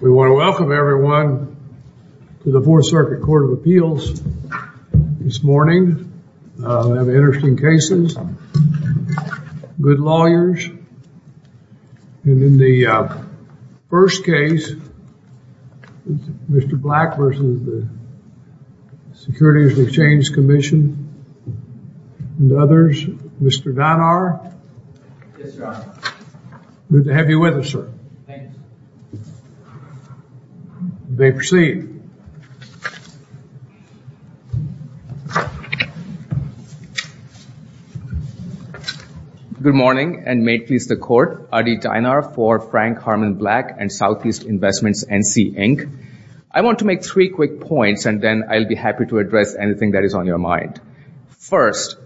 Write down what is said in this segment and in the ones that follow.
We want to welcome everyone to the Fourth Circuit Court of Appeals this morning. We have interesting cases, good lawyers, and in the first case, Mr. Black versus the Securities and Exchange Commission and others, Mr. Donar. Good to have you with us, sir. You may proceed. Good morning and may it please the Court. Adi Dinar for Frank Harmon Black and Southeast Investments, NC Inc. I want to make three quick points and then I'll be happy to address anything that is on your mind. First,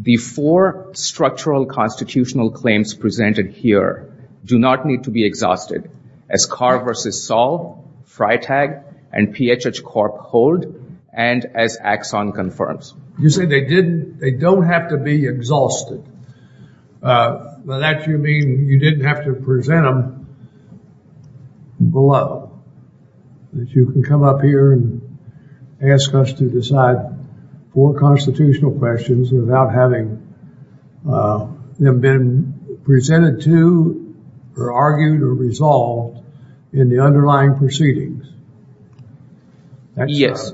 the four structural constitutional claims presented here do not need to be exhausted, as Carr v. Saul, Freitag, and PHH Corp. hold, and as Axon confirms. You say they don't have to be exhausted. By that, you mean you didn't have to present them below, that you can come up here and ask us to decide four constitutional questions without having them been presented to, or argued, or resolved in the underlying proceedings? Yes.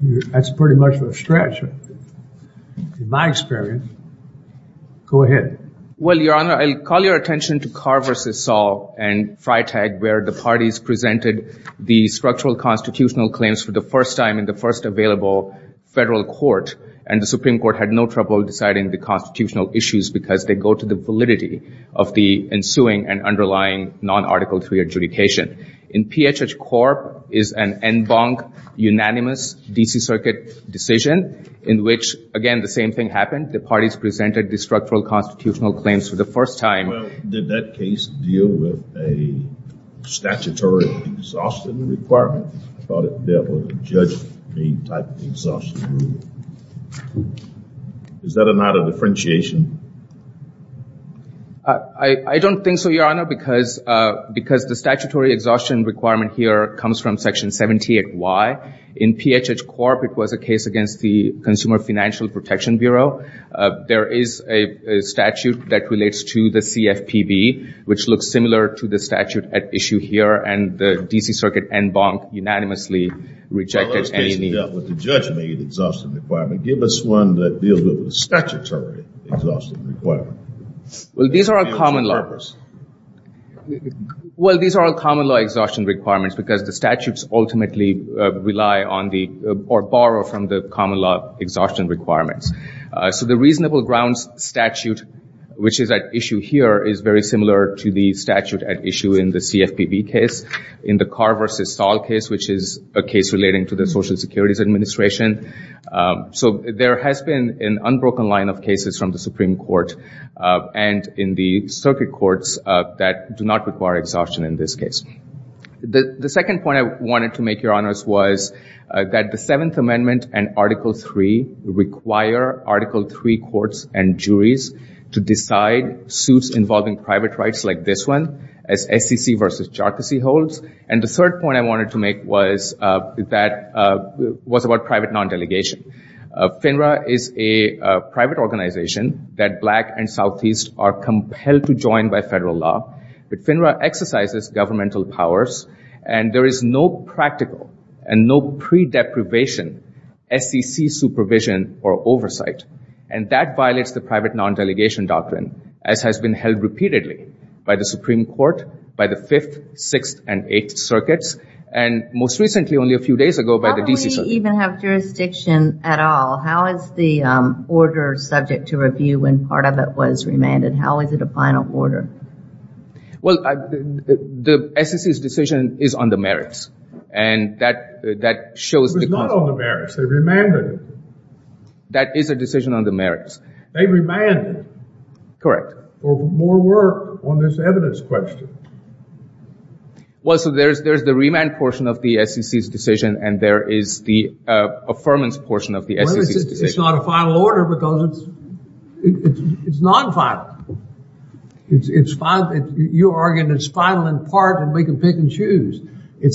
That's pretty much a stretch, in my experience. Go ahead. Well, Your Honor, I'll call your attention to Carr v. Saul and Freitag, where the parties presented the structural constitutional claims for the first time in the first available federal court, and the Supreme Court had no trouble deciding the constitutional issues because they go to the validity of the ensuing and underlying non-Article III adjudication. In PHH Corp., is an en banc, unanimous, D.C. Circuit decision, in which, again, the same thing happened. The parties presented the structural constitutional claims for the first time. Well, did that case deal with a statutory exhaustion requirement? I thought it dealt with a judge-made type of exhaustion rule. Is that or not a differentiation? I don't think so, Your Honor, because the statutory exhaustion requirement here comes from Section 78Y. In PHH Corp., it was a case against the Consumer Financial Protection Bureau. There is a statute that relates to the CFPB, which looks similar to the statute at issue here, and the D.C. Circuit en banc unanimously rejected any need. Well, those cases dealt with the judge-made exhaustion requirement. Give us one that deals with the statutory exhaustion requirement. Well, these are all common law exhaustion requirements because the statutes ultimately rely on the, or borrow from the common law exhaustion requirements. So the reasonable grounds statute, which is at issue here, is very similar to the statute at issue in the CFPB case. In the Carr v. Stahl case, which is a case relating to the Social Security's administration. So there has been an unbroken line of cases from the Supreme Court and in the circuit courts that do not require exhaustion in this case. The second point I wanted to make, Your Honors, was that the Seventh Amendment and Article 3 require Article 3 courts and juries to decide suits involving private rights like this one as SEC v. Charcassie holds. And the third point I wanted to make was that, was about private non-delegation. FINRA is a private organization that black and southeast are compelled to join by federal law. But FINRA exercises governmental powers and there is no practical and no pre-deprivation SEC supervision or oversight. And that violates the private non-delegation doctrine as has been held repeatedly by the Supreme Court, by the Fifth, Sixth, and Eighth Circuits, and most recently, only a few days ago, by the D.C. Circuit. How do we even have jurisdiction at all? How is the order subject to review when part of it was remanded? How is it a final order? Well, the SEC's decision is on the merits. And that shows... It was not on the merits. They remanded it. That is a decision on the merits. They remanded it. Correct. For more work on this evidence question. Well, so there's the remand portion of the SEC's decision and there is the affirmance portion of the SEC's decision. Well, it's not a final order because it's non-final. It's final. You're arguing it's final in part and we can pick and choose. You're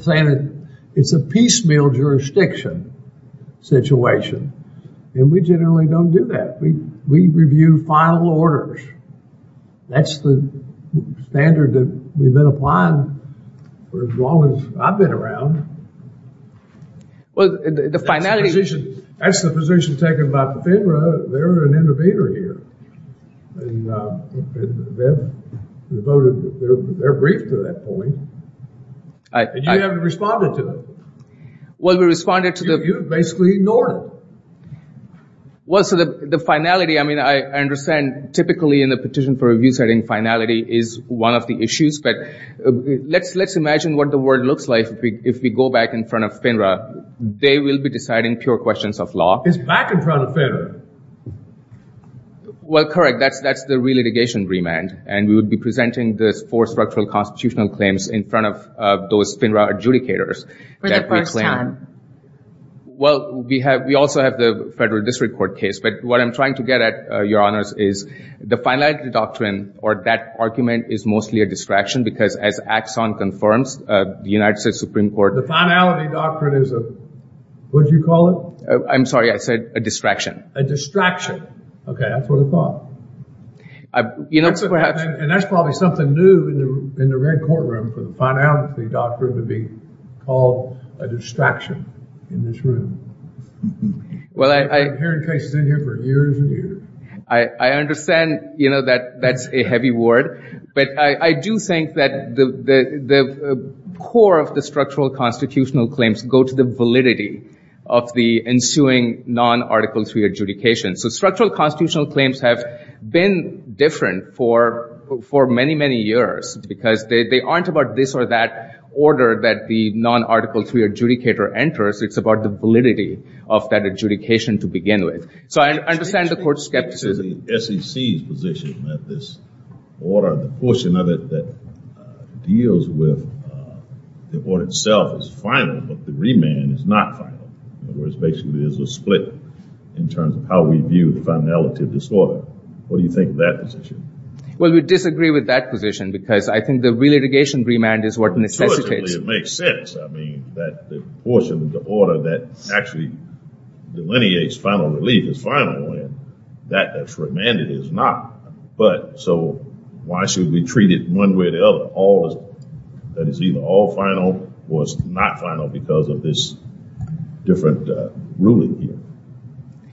saying that it's a piecemeal jurisdiction situation. And we generally don't do that. We review final orders. That's the standard that we've been applying for as long as I've been around. Well, the finality... That's the position taken by FINRA. They're an innovator here. They're briefed to that point. And you haven't responded to it. Well, we responded to the... You've basically ignored it. Well, so the finality, I mean, I understand typically in the petition for review setting, finality is one of the issues. But let's imagine what the world looks like if we go back in front of FINRA. They will be deciding pure questions of law. It's back in front of FINRA. Well, correct. That's the re-litigation remand. And we would be presenting the four structural constitutional claims in front of those FINRA adjudicators. For the first time. Well, we also have the federal district court case. But what I'm trying to get at, Your Honor, is that that argument is mostly a distraction. Because as Axon confirms, the United States Supreme Court... The finality doctrine is a... What did you call it? I'm sorry. I said a distraction. A distraction. Okay. That's what I thought. You know, perhaps... And that's probably something new in the red courtroom for the finality doctrine to be called a distraction in this room. Well, I... We've been hearing cases in here for years and years. I understand, you know, that that's a heavy word. But I do think that the core of the structural constitutional claims go to the validity of the ensuing non-Article III adjudication. So structural constitutional claims have been different for many, many years. Because they aren't about this or that order that the non-Article III adjudicator enters. It's about the validity of that adjudication to begin with. So I understand the court's skepticism. The SEC's position that this order, the portion of it that deals with the order itself is final, but the remand is not final. In other words, basically there's a split in terms of how we view the finality of this order. What do you think of that position? Well, we disagree with that position because I think the relitigation remand is what necessitates... is final and that remanded is not. But so why should we treat it one way or the other? All that is either all final or is not final because of this different ruling here.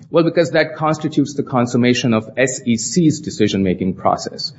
Well, because that constitutes the consummation of SEC's decision-making process.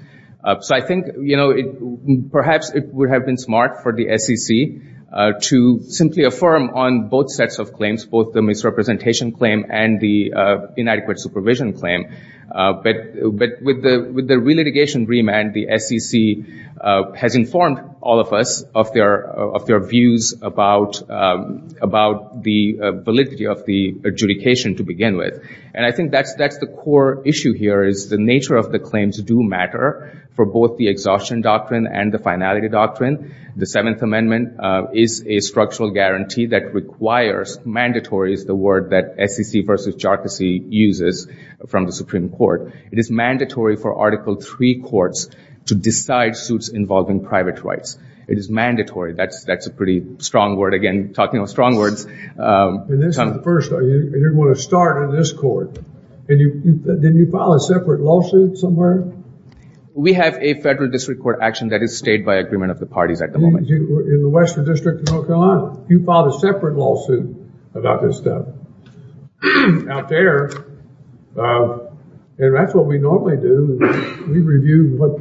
So I think, you know, perhaps it would have been smart for the SEC to simply affirm on both sets of claims, both the misrepresentation claim and the inadequate supervision claim. But with the relitigation remand, the SEC has informed all of us of their views about the validity of the adjudication to begin with. And I think that's the core issue here is the nature of the claims do matter for both the exhaustion doctrine and the finality doctrine. The Seventh Amendment is a structural guarantee that requires, mandatory is the word that SEC versus jocusey uses from the Supreme Court. It is mandatory for Article III courts to decide suits involving private rights. It is mandatory. That's a pretty strong word. Again, talking of strong words... And this is the first. You're going to start in this court. Didn't you file a separate lawsuit somewhere? We have a federal district court action that is stayed by agreement of the parties at the moment. In the Western District of North Carolina. You filed a separate lawsuit about this stuff out there. And that's what we normally do. We review what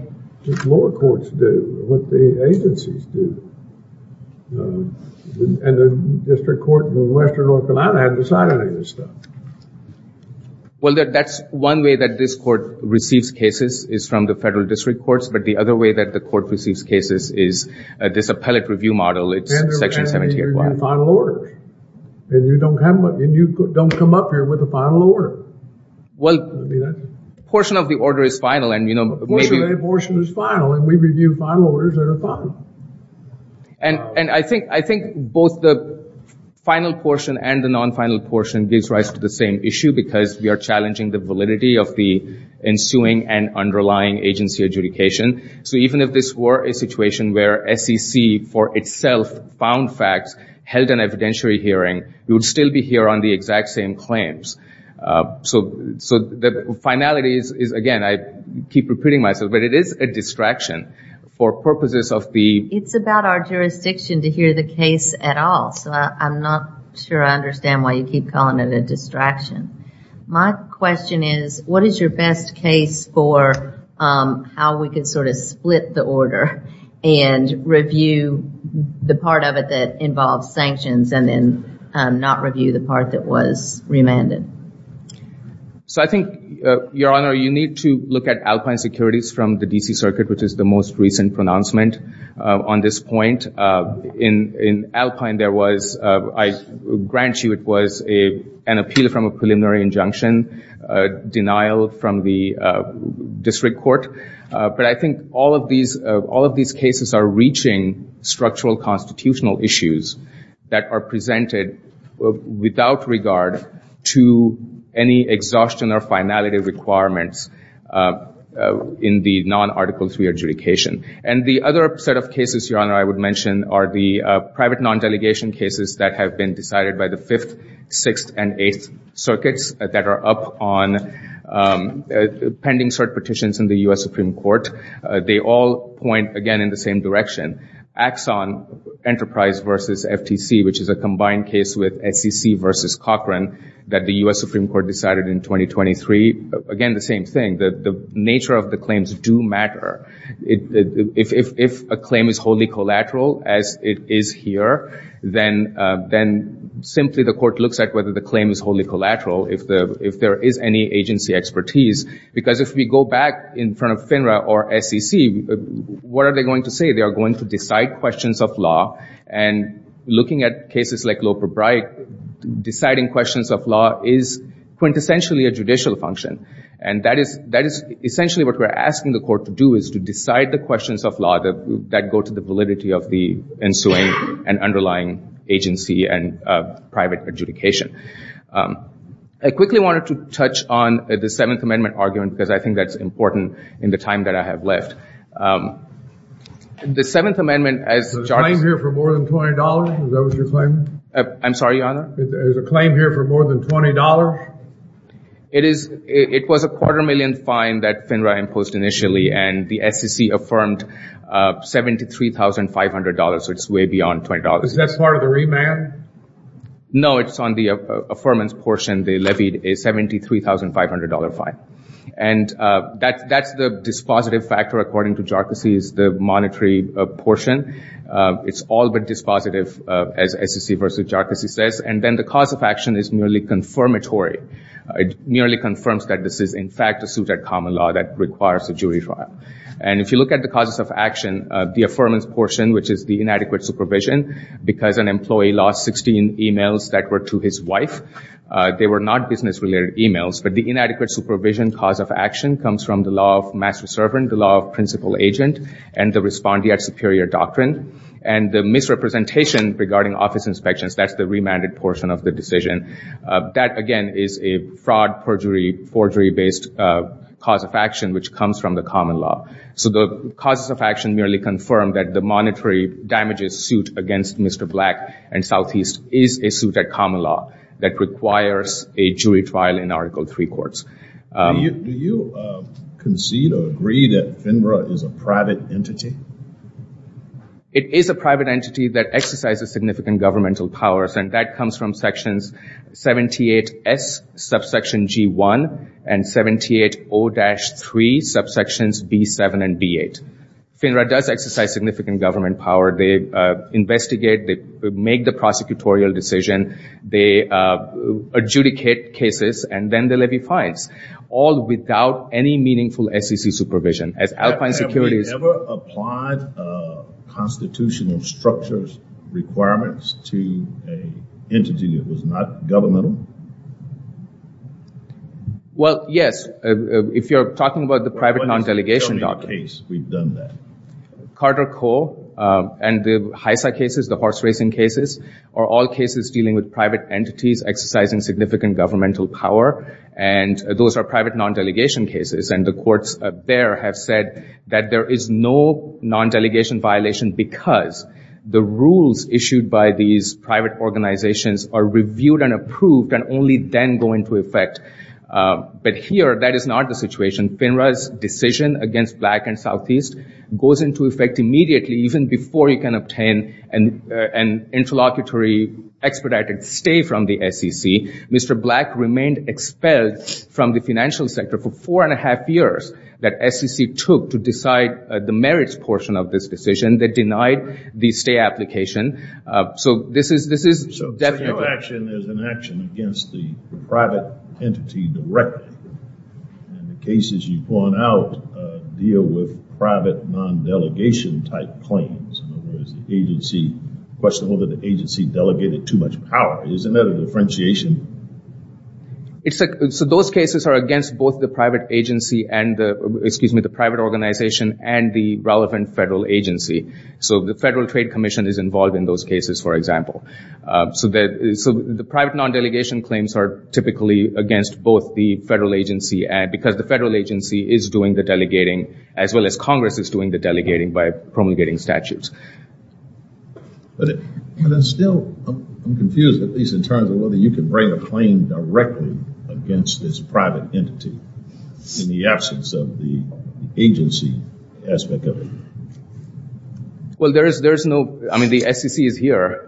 the lower courts do, what the agencies do. And the district court in Western North Carolina hasn't decided any of this stuff. Well, that's one way that this court receives cases is from the federal district courts. But the other way that the court receives cases is this appellate review model. It's Section 78-1. And you review final orders. And you don't come up here with a final order. Well, a portion of the order is final. A portion is final. And we review final orders that are final. And I think both the final portion and the non-final portion gives rise to the same issue. Because we are challenging the validity of the ensuing and underlying agency adjudication. So even if this were a situation where SEC for itself found facts, held an evidentiary hearing, we would still be here on the exact same claims. So the finality is, again, I keep repeating myself, but it is a distraction. It's about our jurisdiction to hear the case at all. So I'm not sure I understand why you keep calling it a distraction. My question is, what is your best case for how we can sort of split the order and review the part of it that involves sanctions and then not review the part that was remanded? So I think, Your Honor, you need to look at Alpine Securities from the D.C. Circuit, which is the most recent pronouncement on this point. In Alpine, there was, I grant you, it was an appeal from a preliminary injunction, denial from the district court. But I think all of these cases are reaching structural constitutional issues that are presented without regard to any exhaustion or finality requirements in the non-Article III adjudication. And the other set of cases, Your Honor, I would mention are the private non-delegation cases that have been decided by the Fifth, Sixth, and Eighth Circuits that are up on pending cert petitions in the U.S. Supreme Court. They all point, again, in the same direction. Axon Enterprise v. FTC, which is a combined case with SEC v. Cochran that the U.S. Supreme Court decided in 2023, again, the same thing. The nature of the claims do matter. If a claim is wholly collateral, as it is here, then simply the court looks at whether the claim is wholly collateral if there is any agency expertise. Because if we go back in front of FINRA or SEC, what are they going to say? They are going to decide questions of law. And looking at cases like Loeb v. Breit, deciding questions of law is quintessentially a judicial function. And that is essentially what we're asking the court to do, is to decide the questions of law that go to the validity of the ensuing and underlying agency and private adjudication. I quickly wanted to touch on the Seventh Amendment argument because I think that's important in the time that I have left. The Seventh Amendment, as charges— Is there a claim here for more than $20? Is that what you're claiming? I'm sorry, Your Honor? Is there a claim here for more than $20? It was a quarter-million fine that FINRA imposed initially, and the SEC affirmed $73,500, so it's way beyond $20. Is that part of the remand? No, it's on the affirmance portion. They levied a $73,500 fine. And that's the dispositive factor, according to Jarkissi, is the monetary portion. It's all but dispositive, as SEC v. Jarkissi says. And then the cause of action is merely confirmatory. It merely confirms that this is in fact a suit at common law that requires a jury trial. And if you look at the causes of action, the affirmance portion, which is the inadequate supervision, because an employee lost 16 emails that were to his wife, they were not business-related emails, but the inadequate supervision cause of action comes from the law of master-servant, the law of principal agent, and the respondeat superior doctrine. And the misrepresentation regarding office inspections, that's the remanded portion of the decision. That, again, is a fraud, perjury, forgery-based cause of action which comes from the common law. So the causes of action merely confirm that the monetary damages suit against Mr. Black and Southeast is a suit at common law that requires a jury trial in Article III courts. Do you concede or agree that FINRA is a private entity? It is a private entity that exercises significant governmental powers, and that comes from Sections 78S, Subsection G1, and 78O-3, Subsections B7 and B8. FINRA does exercise significant government power. They investigate, they make the prosecutorial decision, they adjudicate cases, and then they levy fines, all without any meaningful SEC supervision. As Alpine Securities... Have we ever applied constitutional structures, requirements to an entity that was not governmental? Well, yes, if you're talking about the private non-delegation doctrine. Tell me a case we've done that. Carter Coe and the HISA cases, the horse racing cases, are all cases dealing with private entities exercising significant governmental power, and those are private non-delegation cases. And the courts there have said that there is no non-delegation violation because the rules issued by these private organizations are reviewed and approved and only then go into effect. But here, that is not the situation. FINRA's decision against Black and Southeast goes into effect immediately, even before you can obtain an interlocutory expedited stay from the SEC. Mr. Black remained expelled from the financial sector for four and a half years that SEC took to decide the merits portion of this decision. They denied the stay application. So this is definitely... So your action is an action against the private entity directly. And the cases you point out deal with private non-delegation type claims. In other words, the agency... The question was whether the agency delegated too much power. Isn't that a differentiation? So those cases are against both the private agency and... Excuse me, the private organization and the relevant federal agency. So the Federal Trade Commission is involved in those cases, for example. So the private non-delegation claims are typically against both the federal agency and... Because the federal agency is doing the delegating, as well as Congress is doing the delegating by promulgating statutes. But it's still... I'm confused, at least in terms of whether you can bring a claim directly against this private entity in the absence of the agency aspect of it. Well, there is no... I mean, the SEC is here.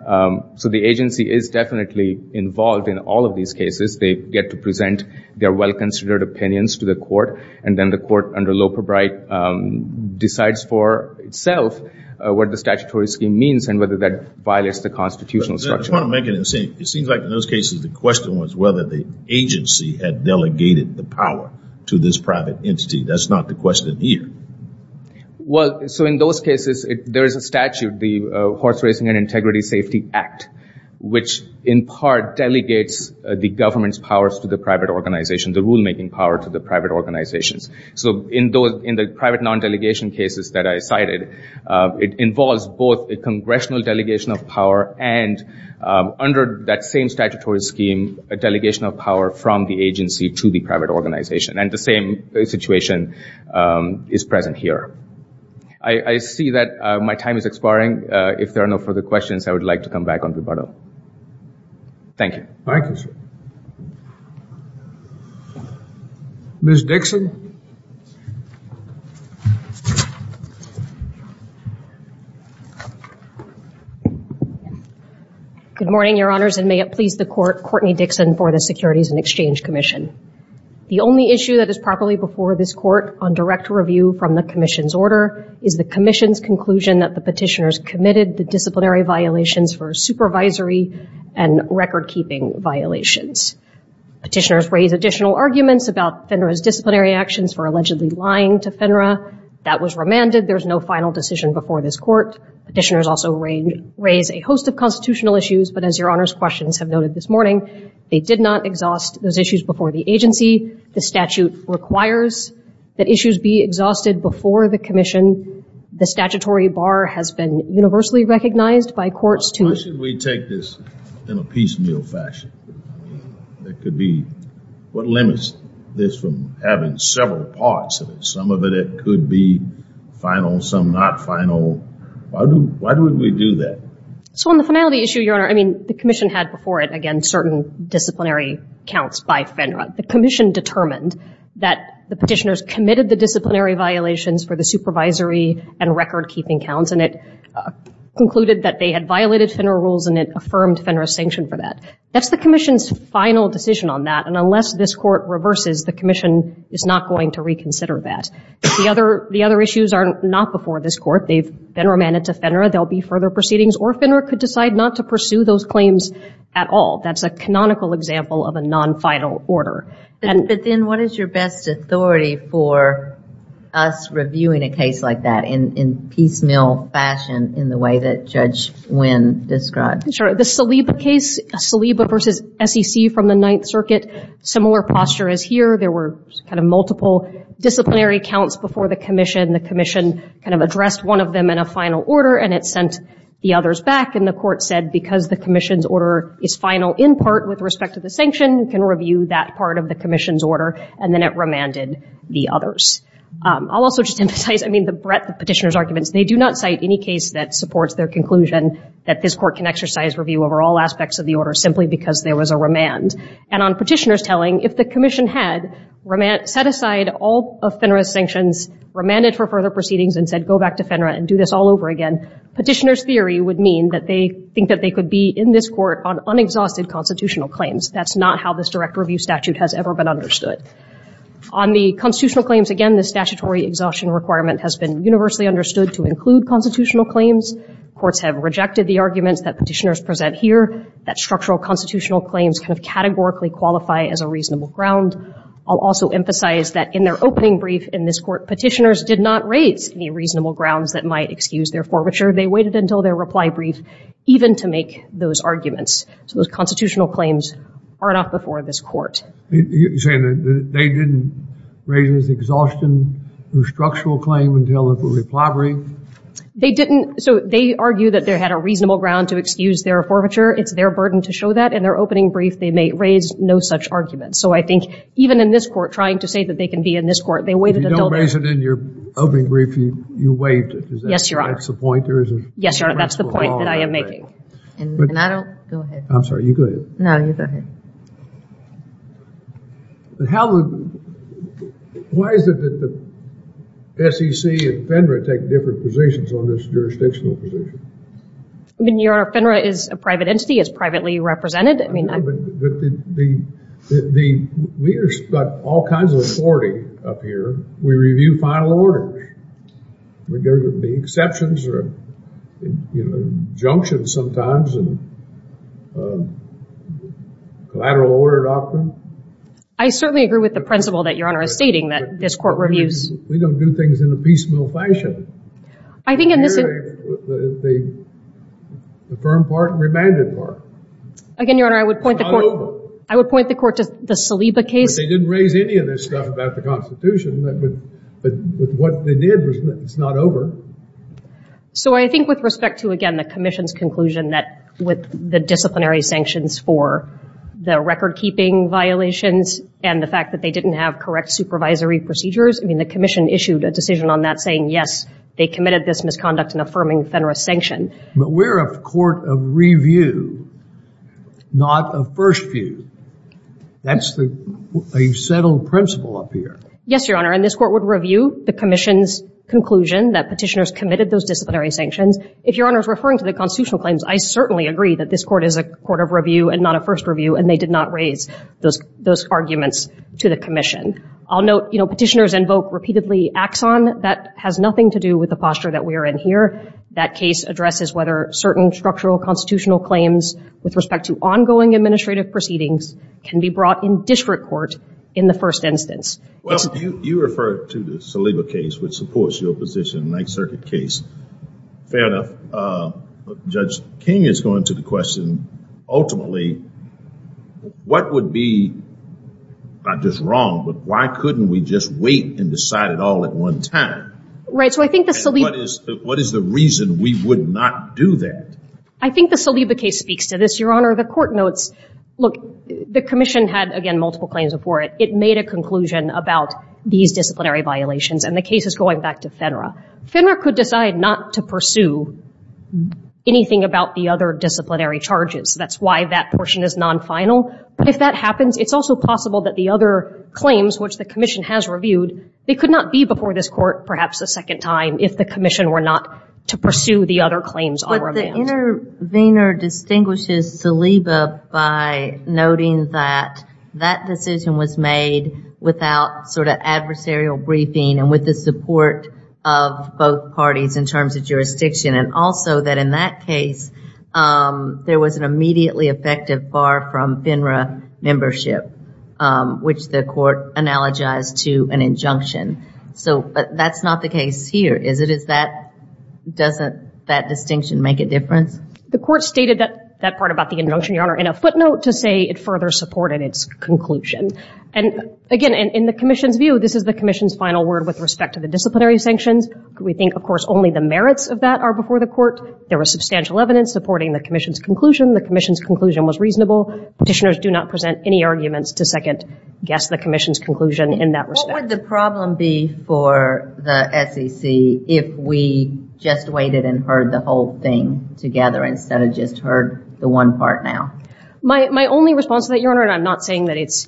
So the agency is definitely involved in all of these cases. They get to present their well-considered opinions to the court. And then the court, under Loper-Bright, decides for itself what the statutory scheme means and whether that violates the constitutional structure. I just want to make it the same. It seems like in those cases, the question was whether the agency had delegated the power to this private entity. That's not the question here. Well, so in those cases, there is a statute, the Horse Racing and Integrity Safety Act, which in part delegates the government's powers to the private organization, the rulemaking power to the private organizations. So in the private non-delegation cases that I cited, it involves both a congressional delegation of power and, under that same statutory scheme, a delegation of power from the agency to the private organization. And the same situation is present here. I see that my time is expiring. If there are no further questions, I would like to come back on rebuttal. Thank you. Thank you, sir. Ms. Dixon? Good morning, Your Honors, and may it please the Court, Courtney Dixon for the Securities and Exchange Commission. The only issue that is properly before this Court on direct review from the Commission's order is the Commission's conclusion that the petitioners committed the disciplinary violations for supervisory and record-keeping violations. Petitioners raise additional arguments about FINRA's disciplinary actions for allegedly lying to FINRA. That was remanded. There is no final decision before this Court. Petitioners also raise a host of constitutional issues, but as Your Honors' questions have noted this morning, they did not exhaust those issues before the agency. The statute requires that issues be exhausted before the Commission. The statutory bar has been universally recognized by courts to... Why should we take this in a piecemeal fashion? There could be... What limits this from having several parts of it? Some of it could be final, some not final. Why would we do that? So on the finality issue, Your Honor, I mean, the Commission had before it, again, certain disciplinary counts by FINRA. The Commission determined that the petitioners committed the disciplinary violations for the supervisory and record-keeping counts, and it concluded that they had violated FINRA rules and it affirmed FINRA's sanction for that. That's the Commission's final decision on that, and unless this Court reverses, the Commission is not going to reconsider that. The other issues are not before this Court. They've been remanded to FINRA. There will be further proceedings, or FINRA could decide not to pursue those claims at all. That's a canonical example of a non-final order. But then what is your best authority for us reviewing a case like that in piecemeal fashion in the way that Judge Wynn described? Sure. The Saliba case, Saliba v. SEC from the Ninth Circuit, similar posture as here. There were kind of multiple disciplinary counts before the Commission. The Commission kind of addressed one of them in a final order, and it sent the others back, and the Court said because the Commission's order is final in part with respect to the sanction, we can review that part of the Commission's order, and then it remanded the others. I'll also just emphasize, I mean, the breadth of the Petitioner's arguments. They do not cite any case that supports their conclusion that this Court can exercise review over all aspects of the order simply because there was a remand. And on Petitioner's telling, if the Commission had set aside all of FINRA's sanctions, remanded for further proceedings, and said go back to FINRA and do this all over again, Petitioner's theory would mean that they think that they could be in this Court on unexhausted constitutional claims. That's not how this direct review statute has ever been understood. On the constitutional claims, again, the statutory exhaustion requirement has been universally understood to include constitutional claims. Courts have rejected the arguments that Petitioners present here, that structural constitutional claims kind of categorically qualify as a reasonable ground. I'll also emphasize that in their opening brief in this Court, Petitioners did not raise any reasonable grounds that might excuse their forfeiture. They waited until their reply brief even to make those arguments. So those constitutional claims are not before this Court. You're saying that they didn't raise this exhaustion or structural claim until the reply brief? They didn't. So they argue that they had a reasonable ground to excuse their forfeiture. It's their burden to show that. In their opening brief, they may raise no such argument. So I think even in this Court, trying to say that they can be in this Court, they waited until their... Yes, Your Honor. That's the point there? Yes, Your Honor. That's the point that I am making. And I don't... Go ahead. I'm sorry. You go ahead. No, you go ahead. How the... Why is it that the SEC and FINRA take different positions on this jurisdictional position? Your Honor, FINRA is a private entity. It's privately represented. But the... We've got all kinds of authority up here. We review final orders. There would be exceptions or junctions sometimes and collateral order doctrine. I certainly agree with the principle that Your Honor is stating that this Court reviews... We don't do things in a piecemeal fashion. I think in this... We hear the firm part and remanded part. Again, Your Honor, I would point the Court... It's not over. I would point the Court to the Saliba case. But they didn't raise any of this stuff about the Constitution but what they did was that it's not over. So I think with respect to, again, the Commission's conclusion that with the disciplinary sanctions for the record-keeping violations and the fact that they didn't have correct supervisory procedures, I mean, the Commission issued a decision on that saying, yes, they committed this misconduct in affirming FINRA's sanction. But we're a court of review, not a first view. That's a settled principle up here. Yes, Your Honor, and this Court would review the Commission's conclusion that petitioners committed those disciplinary sanctions. If Your Honor is referring to the constitutional claims, I certainly agree that this Court is a court of review and not a first review, and they did not raise those arguments to the Commission. I'll note petitioners invoke repeatedly axon. That has nothing to do with the posture that we are in here. That case addresses whether certain structural constitutional claims with respect to ongoing administrative proceedings can be brought in district court in the first instance. Well, you refer to the Saliba case, which supports your position, the Ninth Circuit case. Fair enough. Judge King is going to the question, ultimately, what would be not just wrong, but why couldn't we just wait and decide it all at one time? Right, so I think the Saliba – And what is the reason we would not do that? I think the Saliba case speaks to this, Your Honor. The Court notes, look, the Commission had, again, multiple claims before it. It made a conclusion about these disciplinary violations, and the case is going back to FINRA. FINRA could decide not to pursue anything about the other disciplinary charges. That's why that portion is non-final. But if that happens, it's also possible that the other claims, which the Commission has reviewed, they could not be before this Court perhaps a second time if the Commission were not to pursue the other claims on remand. The intervener distinguishes Saliba by noting that that decision was made without sort of adversarial briefing and with the support of both parties in terms of jurisdiction, and also that in that case, there was an immediately effective bar from FINRA membership, which the Court analogized to an injunction. But that's not the case here, is it? Doesn't that distinction make a difference? The Court stated that part about the injunction, Your Honor, in a footnote to say it further supported its conclusion. And again, in the Commission's view, this is the Commission's final word with respect to the disciplinary sanctions. We think, of course, only the merits of that are before the Court. There was substantial evidence supporting the Commission's conclusion. The Commission's conclusion was reasonable. Petitioners do not present any arguments to second-guess the Commission's conclusion in that respect. What would the problem be for the SEC if we just waited and heard the whole thing together instead of just heard the one part now? My only response to that, Your Honor, and I'm not saying that it's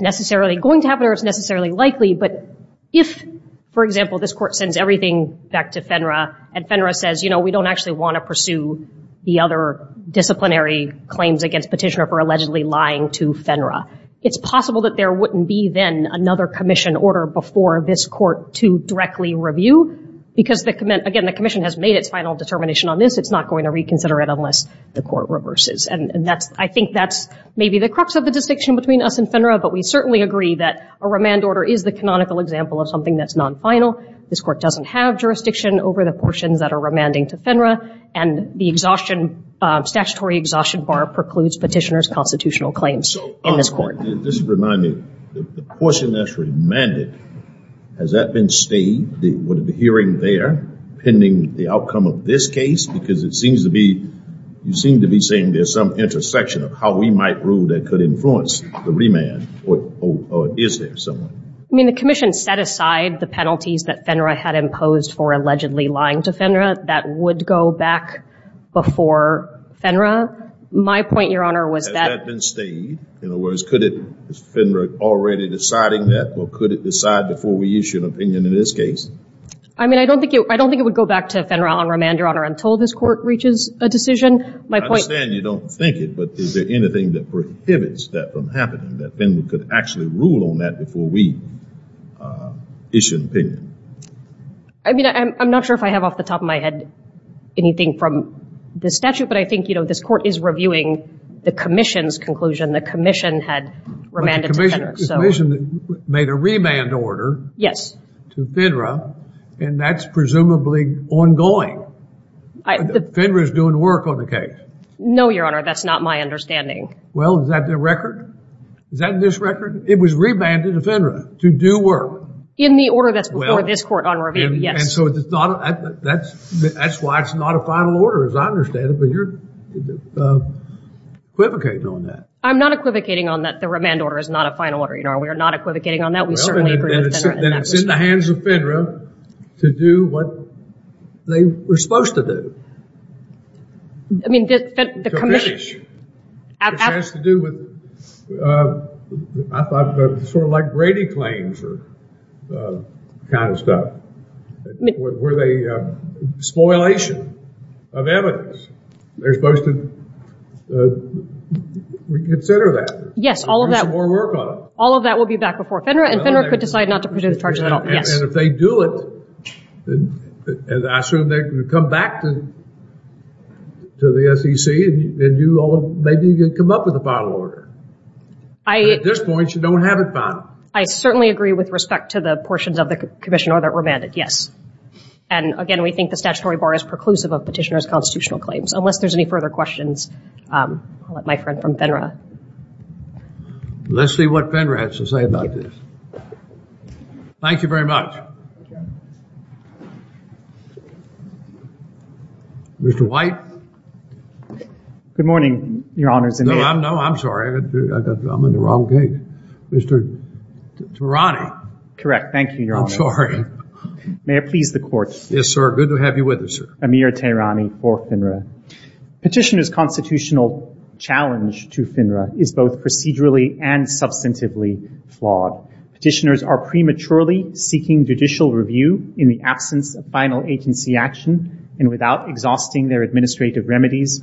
necessarily going to happen or it's necessarily likely, but if, for example, this Court sends everything back to FINRA and FINRA says, you know, we don't actually want to pursue the other disciplinary claims against Petitioner for allegedly lying to FINRA, it's possible that there wouldn't be then another Commission order before this Court to directly review because, again, the Commission has made its final determination on this. It's not going to reconsider it unless the Court reverses. And I think that's maybe the crux of the distinction between us and FINRA, but we certainly agree that a remand order is the canonical example of something that's non-final. This Court doesn't have jurisdiction over the portions that are remanding to FINRA, and the statutory exhaustion bar precludes Petitioner's constitutional claims in this Court. This reminds me, the portion that's remanded, has that been stayed? Would it be hearing there pending the outcome of this case? Because it seems to be... You seem to be saying there's some intersection of how we might rule that could influence the remand, or is there some way? I mean, the Commission set aside the penalties that FINRA had imposed for allegedly lying to FINRA that would go back before FINRA. My point, Your Honor, was that... Has that been stayed? In other words, could it... Is FINRA already deciding that, or could it decide before we issue an opinion in this case? I mean, I don't think it would go back to FINRA on remand, Your Honor, until this Court reaches a decision. I understand you don't think it, but is there anything that prohibits that from happening, that FINRA could actually rule on that before we issue an opinion? I mean, I'm not sure if I have off the top of my head anything from this statute, but I think this Court is reviewing the Commission's conclusion. The Commission had remanded to FINRA. But the Commission made a remand order to FINRA, and that's presumably ongoing. FINRA's doing work on the case. No, Your Honor, that's not my understanding. Well, is that the record? Is that in this record? It was remanded to FINRA to do work. In the order that's before this Court on review, yes. And so that's why it's not a final order, as I understand it. But you're equivocating on that. I'm not equivocating on that the remand order is not a final order, Your Honor. We are not equivocating on that. We certainly agree with FINRA in that respect. Then it's in the hands of FINRA to do what they were supposed to do. I mean, the Commission. It has to do with, I thought, sort of like Brady claims or that kind of stuff. Spoilation of evidence. They're supposed to reconsider that. Yes, all of that. Do some more work on it. All of that will be back before FINRA, and FINRA could decide not to pursue the charges at all, yes. And if they do it, I assume they can come back to the SEC, and maybe you can come up with a final order. At this point, you don't have it final. I certainly agree with respect to the portions of the Commission order that were mandated, yes. And, again, we think the statutory bar is preclusive of petitioner's constitutional claims. Unless there's any further questions, I'll let my friend from FINRA. Let's see what FINRA has to say about this. Thank you very much. Mr. White. Good morning, Your Honors. No, I'm sorry. I'm in the wrong case. Mr. Tarani. Correct. Thank you, Your Honor. I'm sorry. May I please the Court? Yes, sir. Good to have you with us, sir. Amir Tarani for FINRA. Petitioner's constitutional challenge to FINRA is both procedurally and substantively flawed. Petitioners are prematurely seeking judicial review in the absence of final agency action and without exhausting their administrative remedies,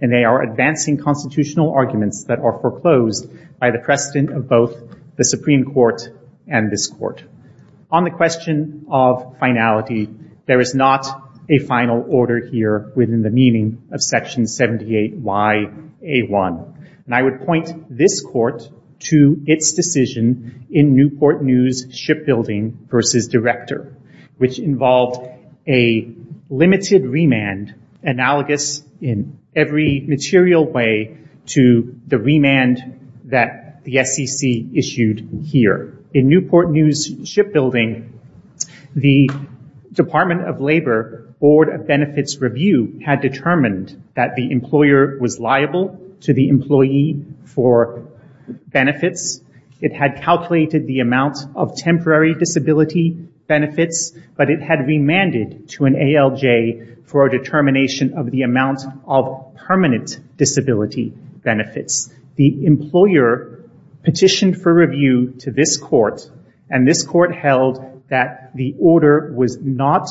and they are advancing constitutional arguments that are foreclosed by the precedent of both the Supreme Court and this Court. On the question of finality, there is not a final order here within the meaning of Section 78yA1. And I would point this Court to its decision in Newport News Shipbuilding v. Director, which involved a limited remand analogous in every material way to the remand that the SEC issued here. In Newport News Shipbuilding, the Department of Labor Board of Benefits Review had determined that the employer was liable to the employee for benefits. It had calculated the amount of temporary disability benefits, but it had remanded to an ALJ for a determination of the amount of permanent disability benefits. The employer petitioned for review to this Court, and this Court held that the order was not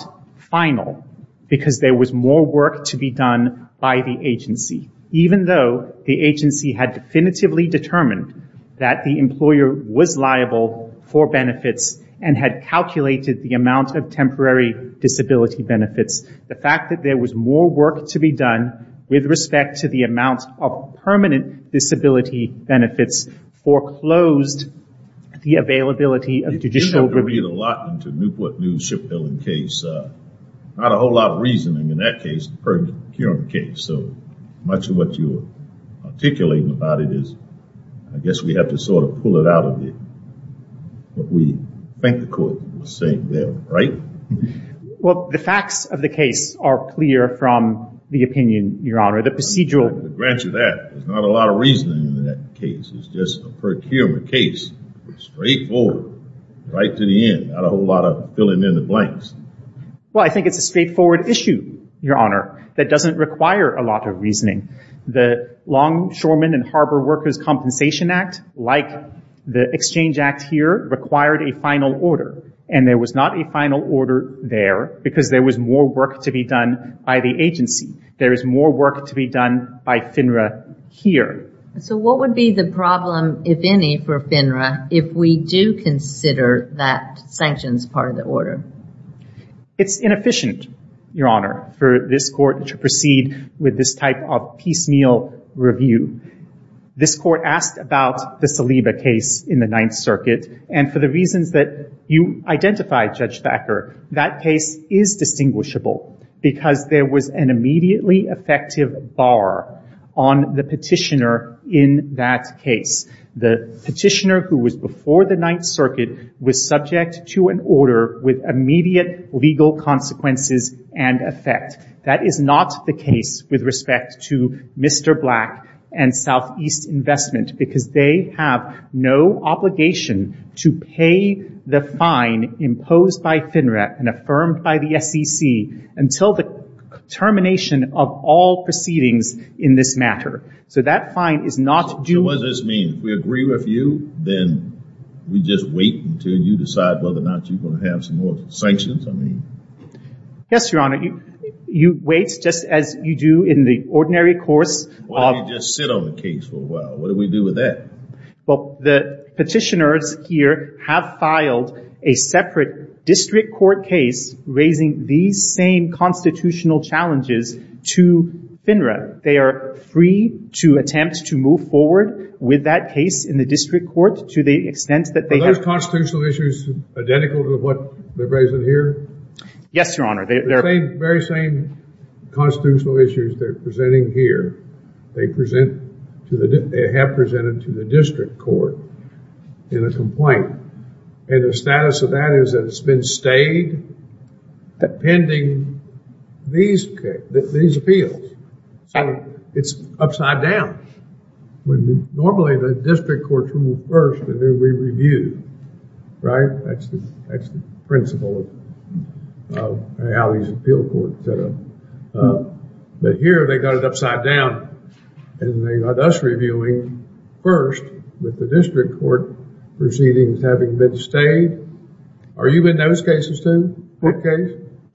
final because there was more work to be done by the agency. Even though the agency had definitively determined that the employer was liable for benefits and had calculated the amount of temporary disability benefits, the fact that there was more work to be done with respect to the amount of permanent disability benefits foreclosed the availability of judicial review. You do have to read a lot into Newport News Shipbuilding case. Not a whole lot of reasoning in that case, the current case. So much of what you're articulating about it is I guess we have to sort of pull it out of it. What we think the Court was saying there, right? Well, the facts of the case are clear from the opinion, Your Honor, the procedural. To grant you that, there's not a lot of reasoning in that case. It's just a procurement case. It's straightforward right to the end. Not a whole lot of filling in the blanks. Well, I think it's a straightforward issue, Your Honor, that doesn't require a lot of reasoning. The Longshoremen and Harbor Workers Compensation Act, like the Exchange Act here, required a final order, and there was not a final order there because there was more work to be done by the agency. There is more work to be done by FINRA here. So what would be the problem, if any, for FINRA if we do consider that sanctions part of the order? It's inefficient, Your Honor, for this Court to proceed with this type of piecemeal review. This Court asked about the Saliba case in the Ninth Circuit, and for the reasons that you identified, Judge Thacker, that case is distinguishable because there was an immediately effective bar on the petitioner in that case. The petitioner who was before the Ninth Circuit was subject to an order with immediate legal consequences and effect. That is not the case with respect to Mr. Black and Southeast Investment because they have no obligation to pay the fine imposed by FINRA and affirmed by the SEC until the termination of all proceedings in this matter. So that fine is not due. So what does this mean? If we agree with you, then we just wait until you decide whether or not you're going to have some more sanctions? Yes, Your Honor. You wait just as you do in the ordinary course. Why don't you just sit on the case for a while? What do we do with that? Well, the petitioners here have filed a separate district court case raising these same constitutional challenges to FINRA. They are free to attempt to move forward with that case in the district court to the extent that they have. Are those constitutional issues identical to what they're raising here? Yes, Your Honor. The very same constitutional issues they're presenting here, they have presented to the district court in a complaint. And the status of that is that it's been stayed pending these appeals. So it's upside down. Normally, the district courts rule first and then we review. Right? That's the principle of an alleged appeal court. But here, they got it upside down. And they got us reviewing first with the district court proceedings having been stayed. Are you in those cases, too?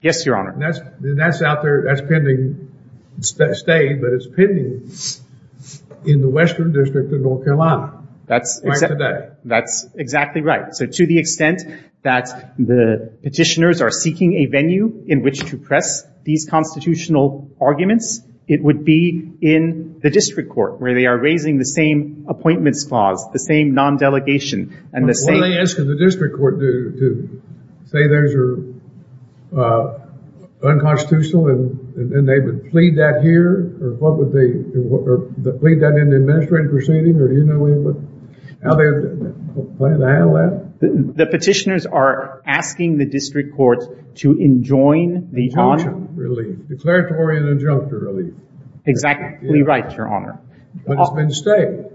Yes, Your Honor. That's out there. That's pending, stayed, but it's pending in the western district of North Carolina. That's exactly right. So to the extent that the petitioners are seeking a venue in which to press these constitutional arguments, it would be in the district court where they are raising the same appointments clause, the same non-delegation. What are they asking the district court to do? Say those are unconstitutional and they would plead that here? Or plead that in the administrative proceeding? Or do you know how they plan to handle that? The petitioners are asking the district court to enjoin the… Declaratory and injunctive relief. Exactly right, Your Honor. But it's been stayed.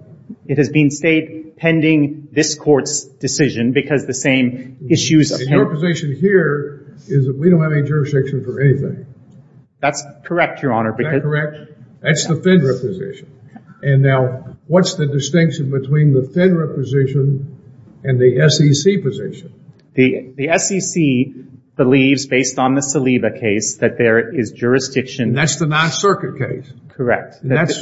It has been stayed pending this court's decision because the same issues appear. Your position here is that we don't have any jurisdiction for anything. That's correct, Your Honor. Is that correct? That's the federal position. And now, what's the distinction between the federal position and the SEC position? The SEC believes, based on the Saliba case, that there is jurisdiction. That's the non-circuit case. Correct.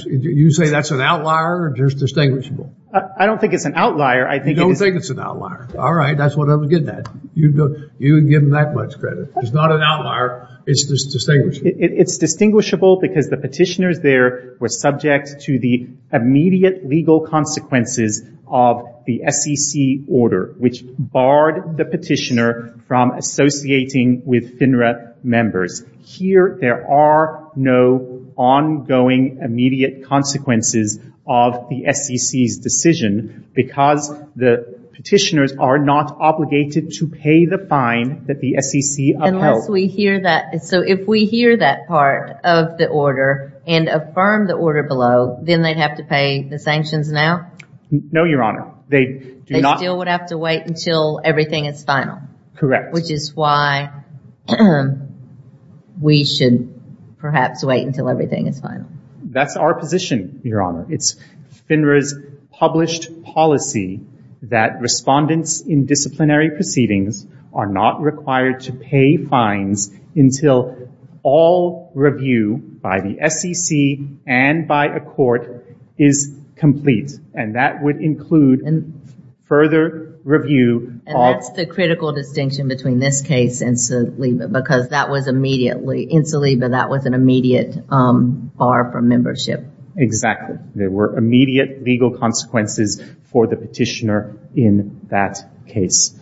You say that's an outlier or just distinguishable? I don't think it's an outlier. You don't think it's an outlier. All right. That's what I'm getting at. You can give them that much credit. It's not an outlier. It's just distinguishable. It's distinguishable because the petitioners there were subject to the immediate legal consequences of the SEC order, which barred the petitioner from associating with FINRA members. Here, there are no ongoing immediate consequences of the SEC's decision because the petitioners are not obligated to pay the fine that the SEC upheld. Unless we hear that. So if we hear that part of the order and affirm the order below, then they'd have to pay the sanctions now? No, Your Honor. They still would have to wait until everything is final. Correct. Which is why we should perhaps wait until everything is final. That's our position, Your Honor. It's FINRA's published policy that respondents in disciplinary proceedings are not required to pay fines until all review by the SEC and by a court is complete. And that would include further review. And that's the critical distinction between this case and Saliba because in Saliba, that was an immediate bar for membership. Exactly. There were immediate legal consequences for the petitioner in that case.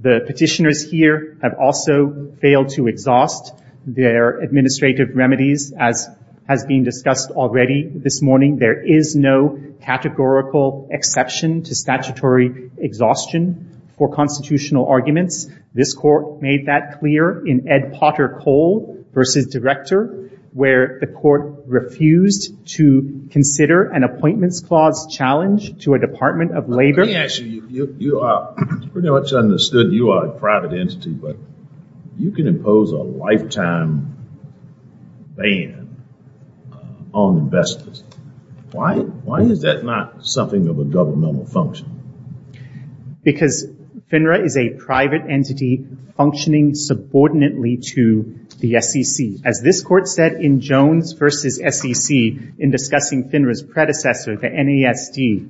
The petitioners here have also failed to exhaust their administrative remedies, as has been discussed already this morning. There is no categorical exception to statutory exhaustion for constitutional arguments. This court made that clear in Ed Potter Cole v. Director, where the court refused to consider an appointments clause challenge to a Department of Labor. Let me ask you, you pretty much understood you are a private entity, but you can impose a lifetime ban on investors. Why is that not something of a governmental function? Because FINRA is a private entity functioning subordinately to the SEC. As this court said in Jones v. SEC in discussing FINRA's predecessor, the NASD,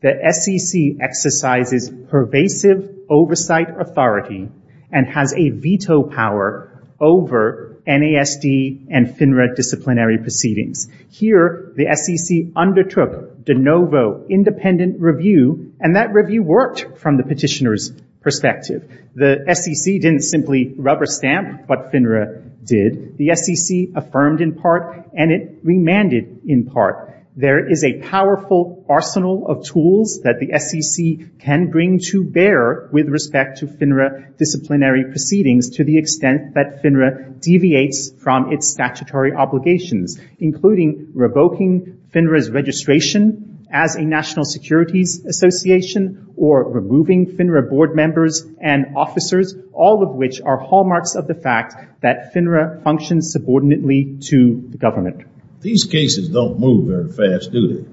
the SEC exercises pervasive oversight authority and has a veto power over NASD and FINRA disciplinary proceedings. Here, the SEC undertook de novo independent review, and that review worked from the petitioner's perspective. The SEC didn't simply rubber stamp what FINRA did. The SEC affirmed in part and it remanded in part. There is a powerful arsenal of tools that the SEC can bring to bear with respect to FINRA disciplinary proceedings to the extent that FINRA deviates from its statutory obligations, including revoking FINRA's registration as a national securities association or removing FINRA board members and officers, all of which are hallmarks of the fact that FINRA functions subordinately to the government. These cases don't move very fast, do they?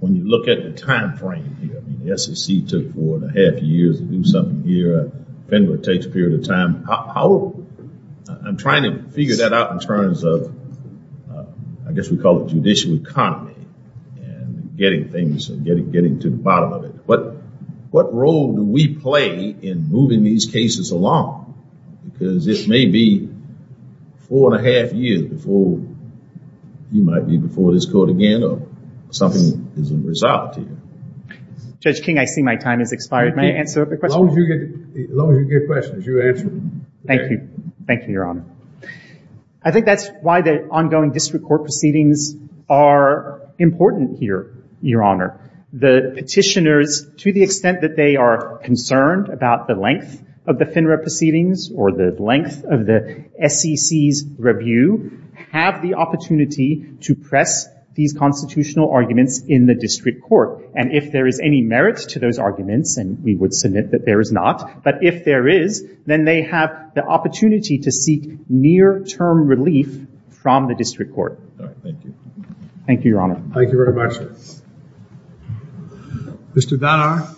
When you look at the time frame here, the SEC took four and a half years to do something here. FINRA takes a period of time. I'm trying to figure that out in terms of, I guess we call it judicial economy and getting things and getting to the bottom of it. But what role do we play in moving these cases along? Because this may be four and a half years before you might be before this court again or something is resolved here. Judge King, I see my time has expired. May I answer a question? As long as you get questions, you answer them. Thank you. Thank you, Your Honor. I think that's why the ongoing district court proceedings are important here, Your Honor. The petitioners, to the extent that they are concerned about the length of the FINRA proceedings or the length of the SEC's review, have the opportunity to press these constitutional arguments in the district court. And if there is any merit to those arguments, and we would submit that there is not, but if there is, then they have the opportunity to seek near-term relief from the district court. Thank you. Thank you, Your Honor. Thank you very much. Mr. Dhanar.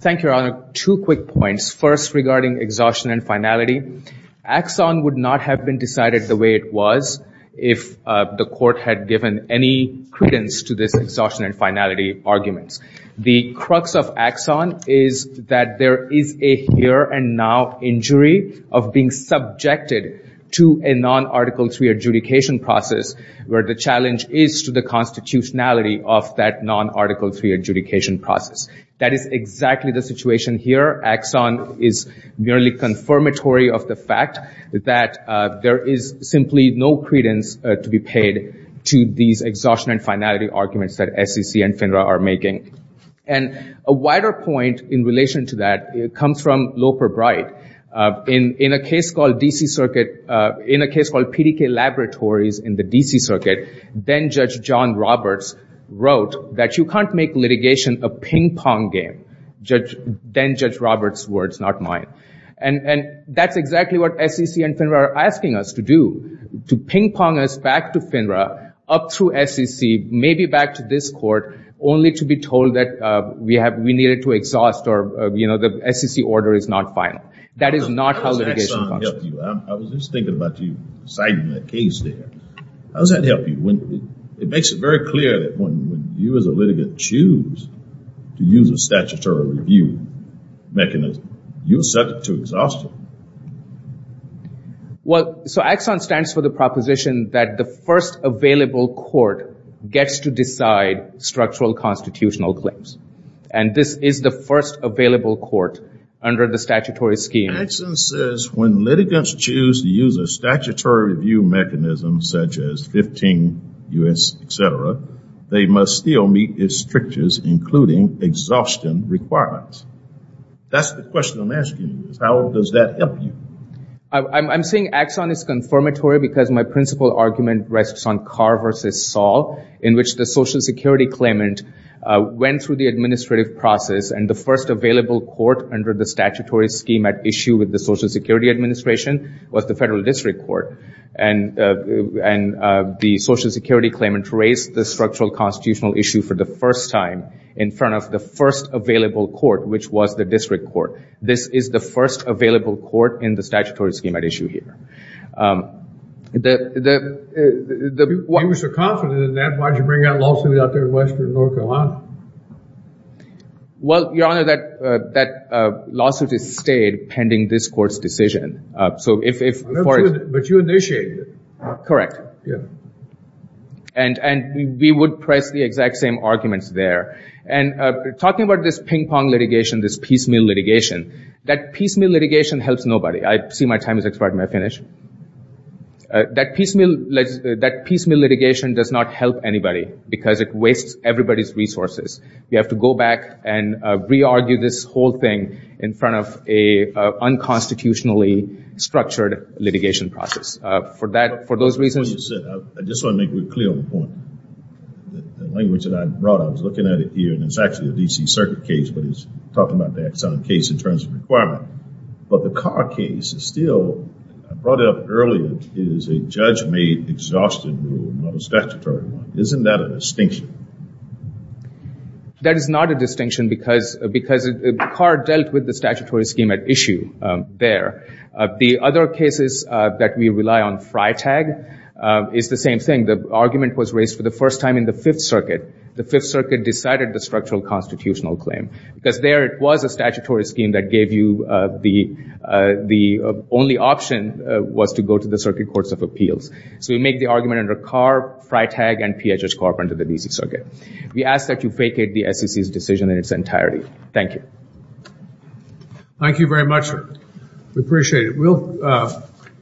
Thank you, Your Honor. Two quick points. First, regarding exhaustion and finality. Axon would not have been decided the way it was if the court had given any credence to this exhaustion and finality arguments. The crux of Axon is that there is a here and now injury of being subjected to a non-Article III adjudication process where the challenge is to the constitutionality of that non-Article III adjudication process. That is exactly the situation here. Axon is merely confirmatory of the fact that there is simply no credence to be paid to these exhaustion and finality arguments that SEC and FINRA are making. And a wider point in relation to that comes from Loper Bright. In a case called PDK Laboratories in the D.C. Circuit, then-Judge John Roberts wrote that you can't make litigation a ping-pong game. Then-Judge Roberts' words, not mine. And that's exactly what SEC and FINRA are asking us to do, to ping-pong us back to FINRA, up through SEC, maybe back to this court, only to be told that we needed to exhaust or, you know, the SEC order is not final. That is not how litigation functions. I was just thinking about you citing that case there. How does that help you? It makes it very clear that when you as a litigant choose to use a statutory review mechanism, you're subject to exhaustion. Well, so AXON stands for the proposition that the first available court gets to decide structural constitutional claims. And this is the first available court under the statutory scheme. AXON says when litigants choose to use a statutory review mechanism such as 15 U.S. etc., they must still meet its strictures, including exhaustion requirements. That's the question I'm asking you. How does that help you? I'm saying AXON is confirmatory because my principal argument rests on Carr v. Saul, in which the Social Security claimant went through the administrative process, and the first available court under the statutory scheme at issue with the Social Security Administration was the Federal District Court. And the Social Security claimant raised the structural constitutional issue for the first time in front of the first available court, which was the District Court. This is the first available court in the statutory scheme at issue here. You were so confident in that, why did you bring out lawsuits out there in Western North Carolina? Well, Your Honor, that lawsuit has stayed pending this court's decision. But you initiated it. Correct. Yeah. And we would press the exact same arguments there. Talking about this ping-pong litigation, this piecemeal litigation, that piecemeal litigation helps nobody. I see my time has expired, may I finish? That piecemeal litigation does not help anybody because it wastes everybody's resources. We have to go back and re-argue this whole thing in front of an unconstitutionally structured litigation process. For those reasons— I just want to make it clear on the point. The language that I brought up, I was looking at it here, and it's actually a D.C. Circuit case, but it's talking about the Exxon case in terms of requirement. But the Carr case is still—I brought it up earlier. It is a judge-made exhaustion rule, not a statutory one. Isn't that a distinction? That is not a distinction because Carr dealt with the statutory scheme at issue there. The other cases that we rely on, FriTag, is the same thing. The argument was raised for the first time in the Fifth Circuit. The Fifth Circuit decided the structural constitutional claim because there it was a statutory scheme that gave you the— the only option was to go to the Circuit Courts of Appeals. So we make the argument under Carr, FriTag, and PHS Corp under the D.C. Circuit. We ask that you vacate the SEC's decision in its entirety. Thank you. Thank you very much. We appreciate it. We'll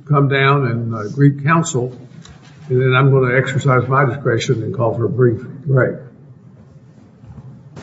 come down and greet counsel, and then I'm going to exercise my discretion and call for a brief. Right.